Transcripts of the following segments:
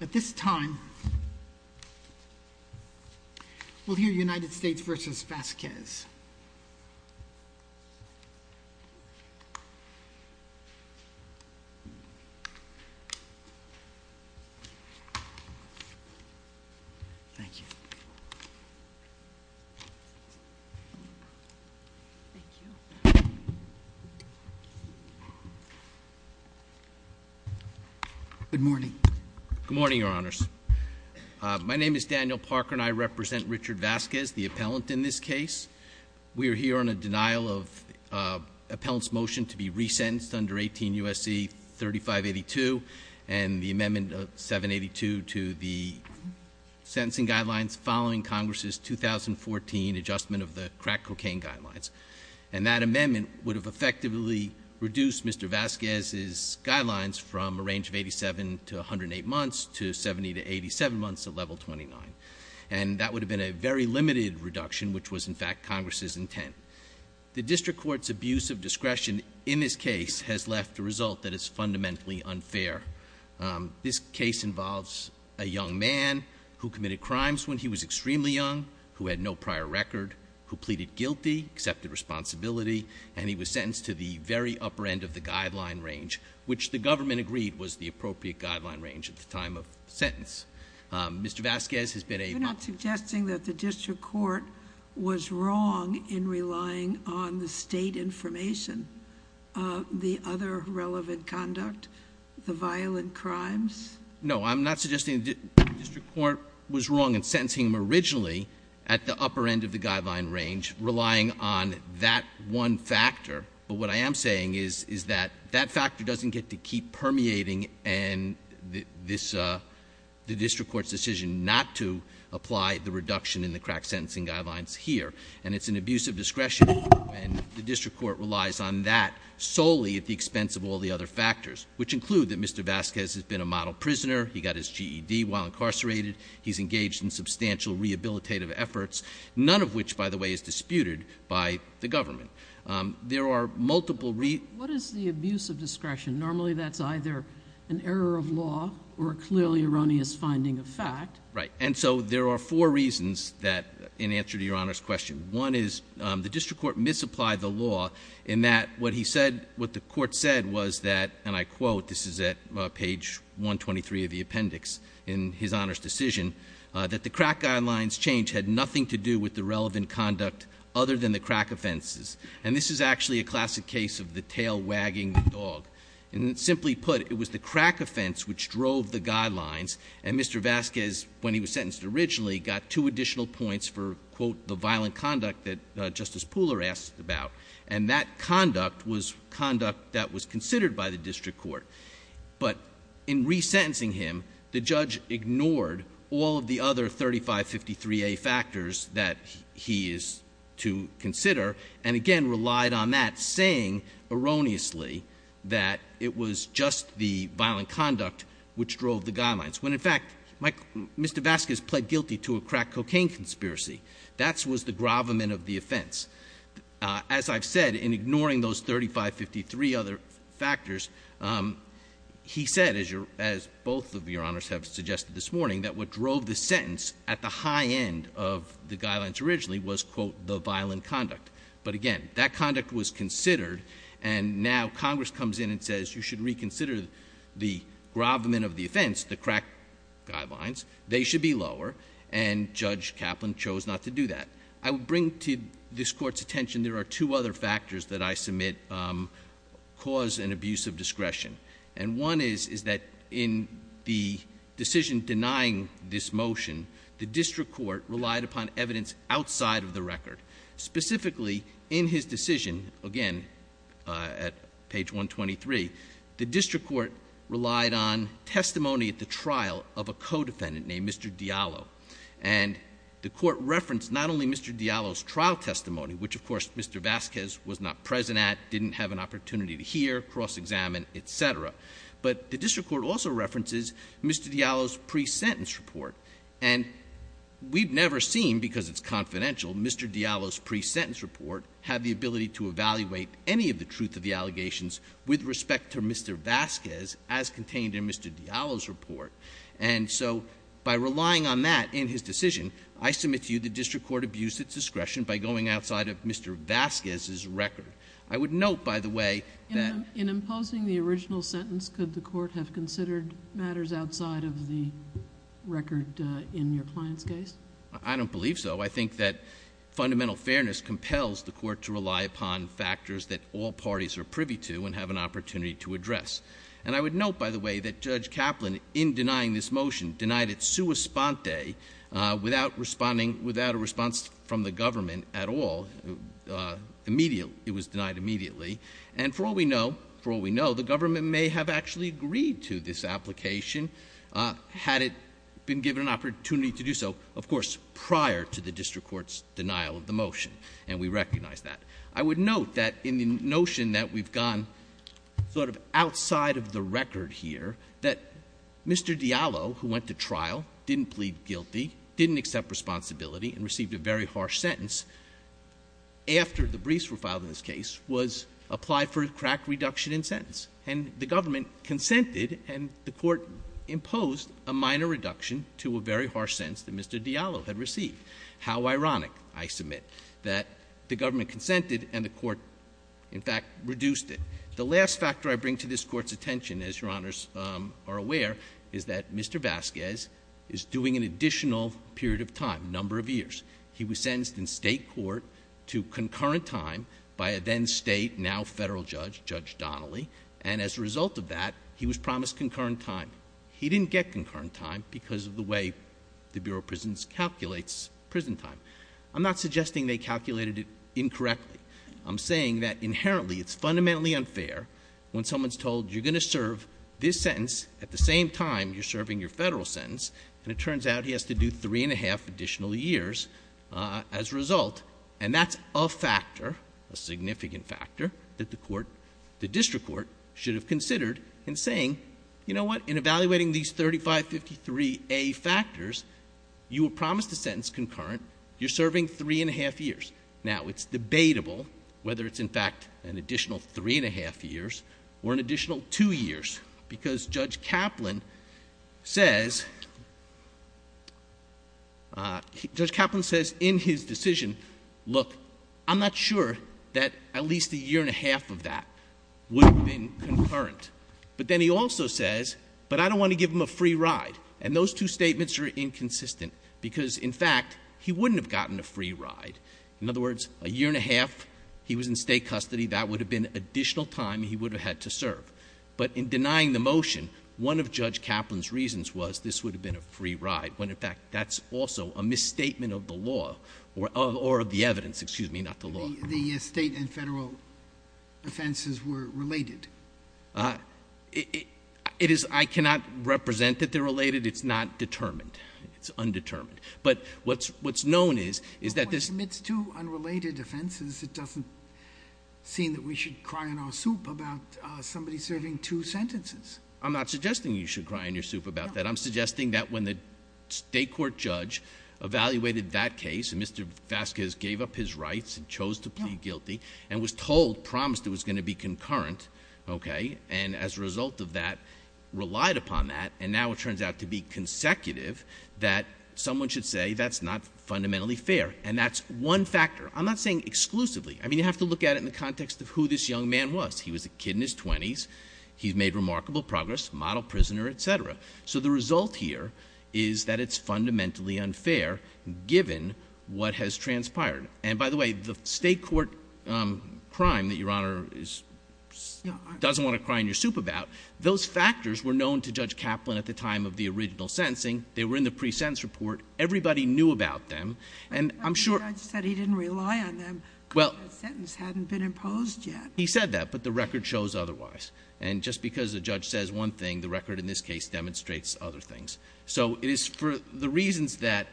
At this time, we'll hear United States v. Vasquez. Good morning, your honors. My name is Daniel Parker, and I represent Richard Vasquez, the appellant in this case. We are here on a denial of appellant's motion to be resentenced under 18 U.S.C. 3582, and the amendment of 782 to the sentencing guidelines following Congress's 2014 adjustment of the crack cocaine guidelines. And that amendment would have effectively reduced Mr. Vasquez's guidelines from a range of 87 to 108 months, to 70 to 87 months at level 29. And that would have been a very limited reduction, which was in fact Congress's intent. The district court's abuse of discretion in this case has left a result that is fundamentally unfair. This case involves a young man who committed crimes when he was extremely young, who had no prior record, who pleaded guilty, accepted responsibility. And he was sentenced to the very upper end of the guideline range, which the government agreed was the appropriate guideline range at the time of the sentence. Mr. Vasquez has been able- You're not suggesting that the district court was wrong in relying on the state information. The other relevant conduct, the violent crimes? No, I'm not suggesting the district court was wrong in sentencing him originally at the upper end of the guideline range, relying on that one factor. But what I am saying is that that factor doesn't get to keep permeating and the district court's decision not to apply the reduction in the crack sentencing guidelines here. And it's an abuse of discretion, and the district court relies on that solely at the expense of all the other factors. Which include that Mr. Vasquez has been a model prisoner, he got his GED while incarcerated, he's engaged in substantial rehabilitative efforts, none of which, by the way, is disputed by the government. There are multiple reasons- What is the abuse of discretion? Normally that's either an error of law or a clearly erroneous finding of fact. Right, and so there are four reasons in answer to your Honor's question. One is the district court misapplied the law in that what the court said was that, and I quote, this is at page 123 of the appendix in his Honor's decision, that the crack guidelines change had nothing to do with the relevant conduct other than the crack offenses. And this is actually a classic case of the tail wagging the dog. And simply put, it was the crack offense which drove the guidelines. And Mr. Vasquez, when he was sentenced originally, got two additional points for, quote, the violent conduct that Justice Pooler asked about. And that conduct was conduct that was considered by the district court. But in resentencing him, the judge ignored all of the other 3553A factors that he is to consider. And again, relied on that, saying erroneously that it was just the violent conduct which drove the guidelines. When in fact, Mr. Vasquez pled guilty to a crack cocaine conspiracy. That was the gravamen of the offense. As I've said, in ignoring those 3553 other factors, he said, as both of your honors have suggested this morning, that what drove the sentence at the high end of the guidelines originally was, quote, the violent conduct. But again, that conduct was considered, and now Congress comes in and says you should reconsider the gravamen of the offense, the crack guidelines. They should be lower, and Judge Kaplan chose not to do that. I would bring to this court's attention, there are two other factors that I submit cause and abuse of discretion. And one is, is that in the decision denying this motion, the district court relied upon evidence outside of the record. Specifically, in his decision, again, at page 123, the district court relied on testimony at the trial of a co-defendant named Mr. Diallo. And the court referenced not only Mr. Diallo's trial testimony, which of course Mr. Vasquez was not present at, didn't have an opportunity to hear, cross examine, etc. But the district court also references Mr. Diallo's pre-sentence report. And we've never seen, because it's confidential, Mr. Diallo's pre-sentence report, have the ability to evaluate any of the truth of the allegations with respect to Mr. Vasquez as contained in Mr. Diallo's report. And so, by relying on that in his decision, I submit to you the district court abused its discretion by going outside of Mr. Vasquez's record. I would note, by the way, that- In imposing the original sentence, could the court have considered matters outside of the record in your client's case? I don't believe so. I think that fundamental fairness compels the court to rely upon factors that all parties are privy to and have an opportunity to address. And I would note, by the way, that Judge Kaplan, in denying this motion, denied it sua sponte, without a response from the government at all, it was denied immediately. And for all we know, the government may have actually agreed to this application, had it been given an opportunity to do so, of course, prior to the district court's denial of the motion. And we recognize that. I would note that in the notion that we've gone sort of outside of the record here, that Mr. Diallo, who went to trial, didn't plead guilty, didn't accept responsibility, and received a very harsh sentence after the briefs were filed in this case, was applied for a crack reduction in sentence. And the government consented, and the court imposed a minor reduction to a very harsh sentence that Mr. Diallo had received. How ironic, I submit, that the government consented and the court, in fact, reduced it. The last factor I bring to this court's attention, as your honors are aware, is that Mr. Vasquez is doing an additional period of time, number of years. He was sentenced in state court to concurrent time by a then state, now federal judge, Judge Donnelly. And as a result of that, he was promised concurrent time. He didn't get concurrent time because of the way the Bureau of Prisons calculates prison time. I'm not suggesting they calculated it incorrectly. I'm saying that inherently, it's fundamentally unfair when someone's told you're going to serve this sentence at the same time you're serving your federal sentence. And it turns out he has to do three and a half additional years as a result. And that's a factor, a significant factor, that the district court should have considered in saying, you know what, in evaluating these 3553A factors, you were promised a sentence concurrent. You're serving three and a half years. Now, it's debatable whether it's in fact an additional three and a half years or an additional two years, because Judge Kaplan says, Judge Kaplan says in his decision, look, I'm not sure that at least a year and a half of that would have been concurrent. But then he also says, but I don't want to give him a free ride. And those two statements are inconsistent, because in fact, he wouldn't have gotten a free ride. In other words, a year and a half he was in state custody, that would have been additional time he would have had to serve. But in denying the motion, one of Judge Kaplan's reasons was this would have been a free ride, when in fact that's also a misstatement of the law, or of the evidence, excuse me, not the law. The state and federal offenses were related. It is, I cannot represent that they're related. It's not determined. It's undetermined. But what's known is, is that this- Amidst two unrelated offenses, it doesn't seem that we should cry in our soup about somebody serving two sentences. I'm not suggesting you should cry in your soup about that. I'm suggesting that when the state court judge evaluated that case, and Mr. Vasquez gave up his rights and chose to plead guilty, and was told, promised it was going to be concurrent, okay? And as a result of that, relied upon that, and now it turns out to be consecutive, that someone should say that's not fundamentally fair, and that's one factor. I'm not saying exclusively. I mean, you have to look at it in the context of who this young man was. He was a kid in his 20s. He's made remarkable progress, model prisoner, etc. So the result here is that it's fundamentally unfair, given what has transpired. And by the way, the state court crime that Your Honor doesn't want to cry in your soup about, those factors were known to Judge Kaplan at the time of the original sentencing. They were in the pre-sentence report. Everybody knew about them. And I'm sure- The judge said he didn't rely on them because that sentence hadn't been imposed yet. He said that, but the record shows otherwise. And just because a judge says one thing, the record in this case demonstrates other things. So it is for the reasons that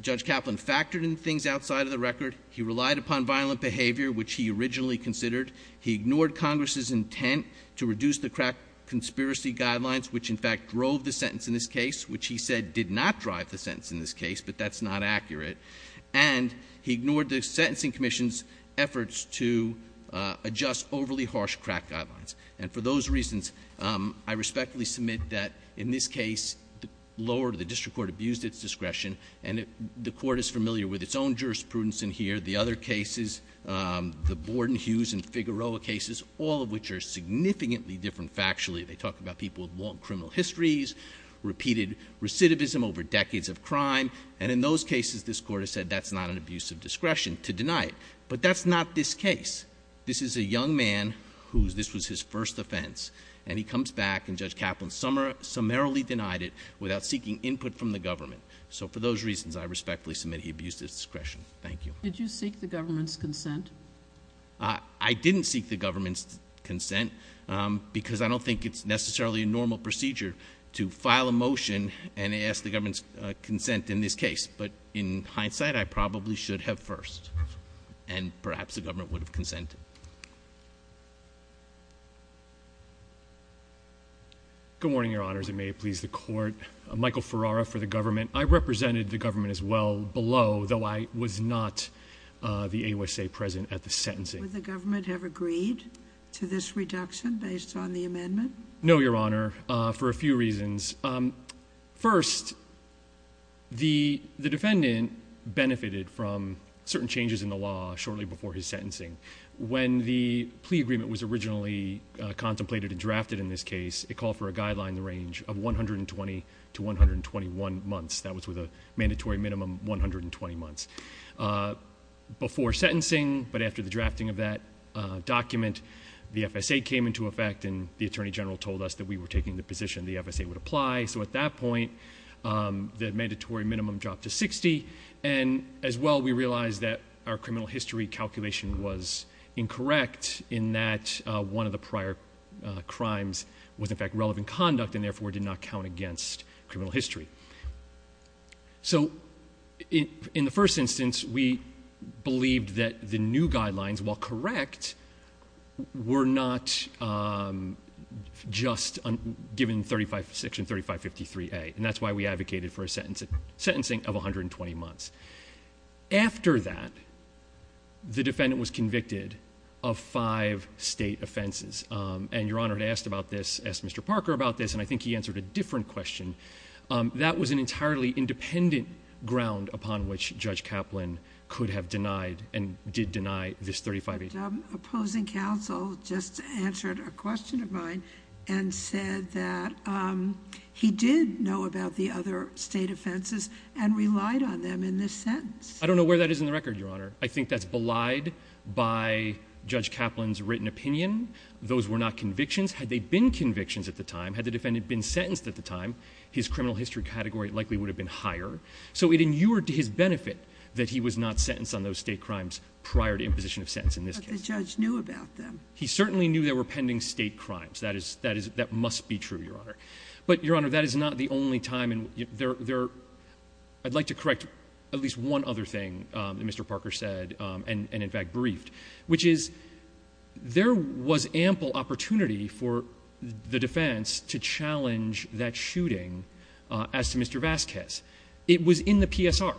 Judge Kaplan factored in things outside of the record. He relied upon violent behavior, which he originally considered. He ignored Congress' intent to reduce the crack conspiracy guidelines, which in fact drove the sentence in this case, which he said did not drive the sentence in this case, but that's not accurate. And he ignored the Sentencing Commission's efforts to adjust overly harsh crack guidelines. And for those reasons, I respectfully submit that in this case, the district court abused its discretion. And the court is familiar with its own jurisprudence in here. The other cases, the Borden, Hughes, and Figueroa cases, all of which are significantly different factually. They talk about people with long criminal histories, repeated recidivism over decades of crime. And in those cases, this court has said that's not an abuse of discretion to deny it. But that's not this case. This is a young man whose, this was his first offense. And he comes back, and Judge Kaplan summarily denied it without seeking input from the government. So for those reasons, I respectfully submit he abused his discretion. Thank you. Did you seek the government's consent? I didn't seek the government's consent because I don't think it's necessarily a normal procedure to file a motion and ask the government's consent in this case. But in hindsight, I probably should have first, and perhaps the government would have consented. Good morning, your honors, and may it please the court. Michael Ferrara for the government. I represented the government as well below, though I was not the AUSA president at the sentencing. Would the government have agreed to this reduction based on the amendment? No, your honor, for a few reasons. First, the defendant benefited from certain changes in the law shortly before his sentencing. When the plea agreement was originally contemplated and drafted in this case, it called for a guideline range of 120 to 121 months. That was with a mandatory minimum, 120 months. Before sentencing, but after the drafting of that document, the FSA came into effect and the Attorney General told us that we were taking the position the FSA would apply. So at that point, the mandatory minimum dropped to 60. And as well, we realized that our criminal history calculation was incorrect in that one of the prior crimes was in fact relevant conduct and therefore did not count against criminal history. So in the first instance, we believed that the new guidelines, while correct, were not just given section 3553A. And that's why we advocated for a sentencing of 120 months. After that, the defendant was convicted of five state offenses. And your honor, I asked about this, asked Mr. Parker about this, and I think he answered a different question. That was an entirely independent ground upon which Judge Kaplan could have denied and did deny this 35A. Opposing counsel just answered a question of mine and said that he did know about the other state offenses and relied on them in this sentence. I don't know where that is in the record, your honor. I think that's belied by Judge Kaplan's written opinion. Those were not convictions. Had they been convictions at the time, had the defendant been sentenced at the time, his criminal history category likely would have been higher. So it inured to his benefit that he was not sentenced on those state crimes prior to imposition of sentence in this case. But the judge knew about them. He certainly knew there were pending state crimes. That must be true, your honor. But your honor, that is not the only time, and I'd like to correct at least one other thing that Mr. Parker said and in fact briefed. Which is, there was ample opportunity for the defense to challenge that shooting as to Mr. Vasquez. It was in the PSR.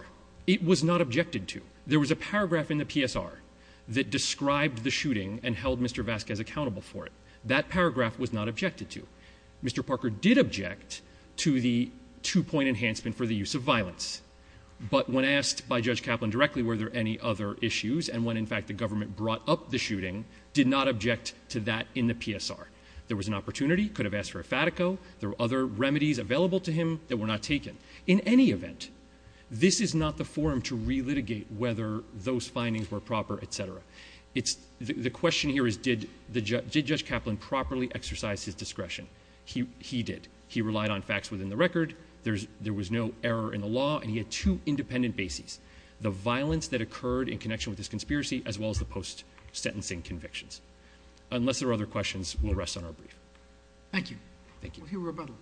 It was not objected to. There was a paragraph in the PSR that described the shooting and held Mr. Vasquez accountable for it. That paragraph was not objected to. Mr. Parker did object to the two point enhancement for the use of violence. But when asked by Judge Kaplan directly, were there any other issues? And when, in fact, the government brought up the shooting, did not object to that in the PSR. There was an opportunity, could have asked for a Fatico. There were other remedies available to him that were not taken. In any event, this is not the forum to re-litigate whether those findings were proper, etc. The question here is, did Judge Kaplan properly exercise his discretion? He did. He relied on facts within the record. There was no error in the law, and he had two independent bases. The violence that occurred in connection with this conspiracy, as well as the post-sentencing convictions. Unless there are other questions, we'll rest on our brief. Thank you. Thank you. We'll hear rebuttal.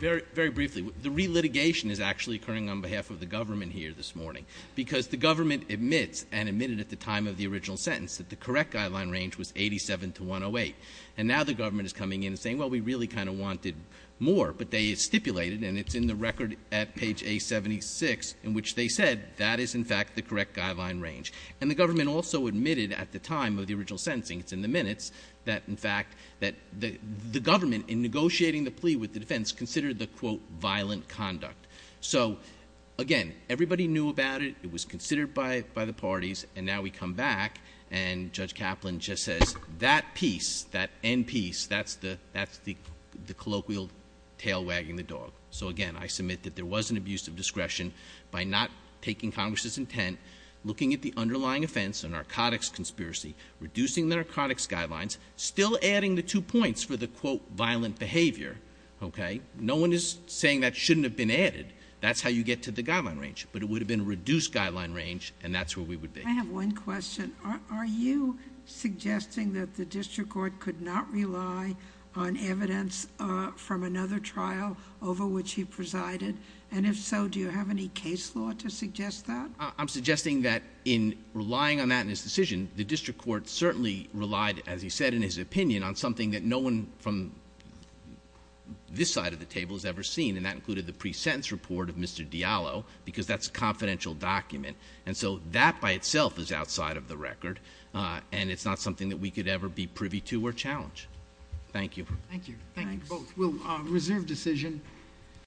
Very briefly, the re-litigation is actually occurring on behalf of the government here this morning. Because the government admits, and admitted at the time of the original sentence, that the correct guideline range was 87 to 108. And now the government is coming in and saying, well, we really kind of wanted more. But they stipulated, and it's in the record at page A76, in which they said, that is in fact the correct guideline range. And the government also admitted at the time of the original sentencing, it's in the minutes, that in fact, that the government, in negotiating the plea with the defense, considered the, quote, violent conduct. So again, everybody knew about it, it was considered by the parties. And now we come back, and Judge Kaplan just says, that piece, that end piece, that's the colloquial tail wagging the dog. So again, I submit that there was an abuse of discretion by not taking Congress's intent, looking at the underlying offense, a narcotics conspiracy, reducing the narcotics guidelines, still adding the two points for the, quote, violent behavior, okay? No one is saying that shouldn't have been added. That's how you get to the guideline range. But it would have been reduced guideline range, and that's where we would be. I have one question. Are you suggesting that the district court could not rely on evidence from another trial over which he presided? And if so, do you have any case law to suggest that? I'm suggesting that in relying on that in his decision, the district court certainly relied, as he said in his opinion, on something that no one from this side of the table has ever seen. And that included the pre-sentence report of Mr. Diallo, because that's a confidential document. And so that by itself is outside of the record, and it's not something that we could ever be privy to or challenge. Thank you. Thank you. Thank you both. We'll reserve decision.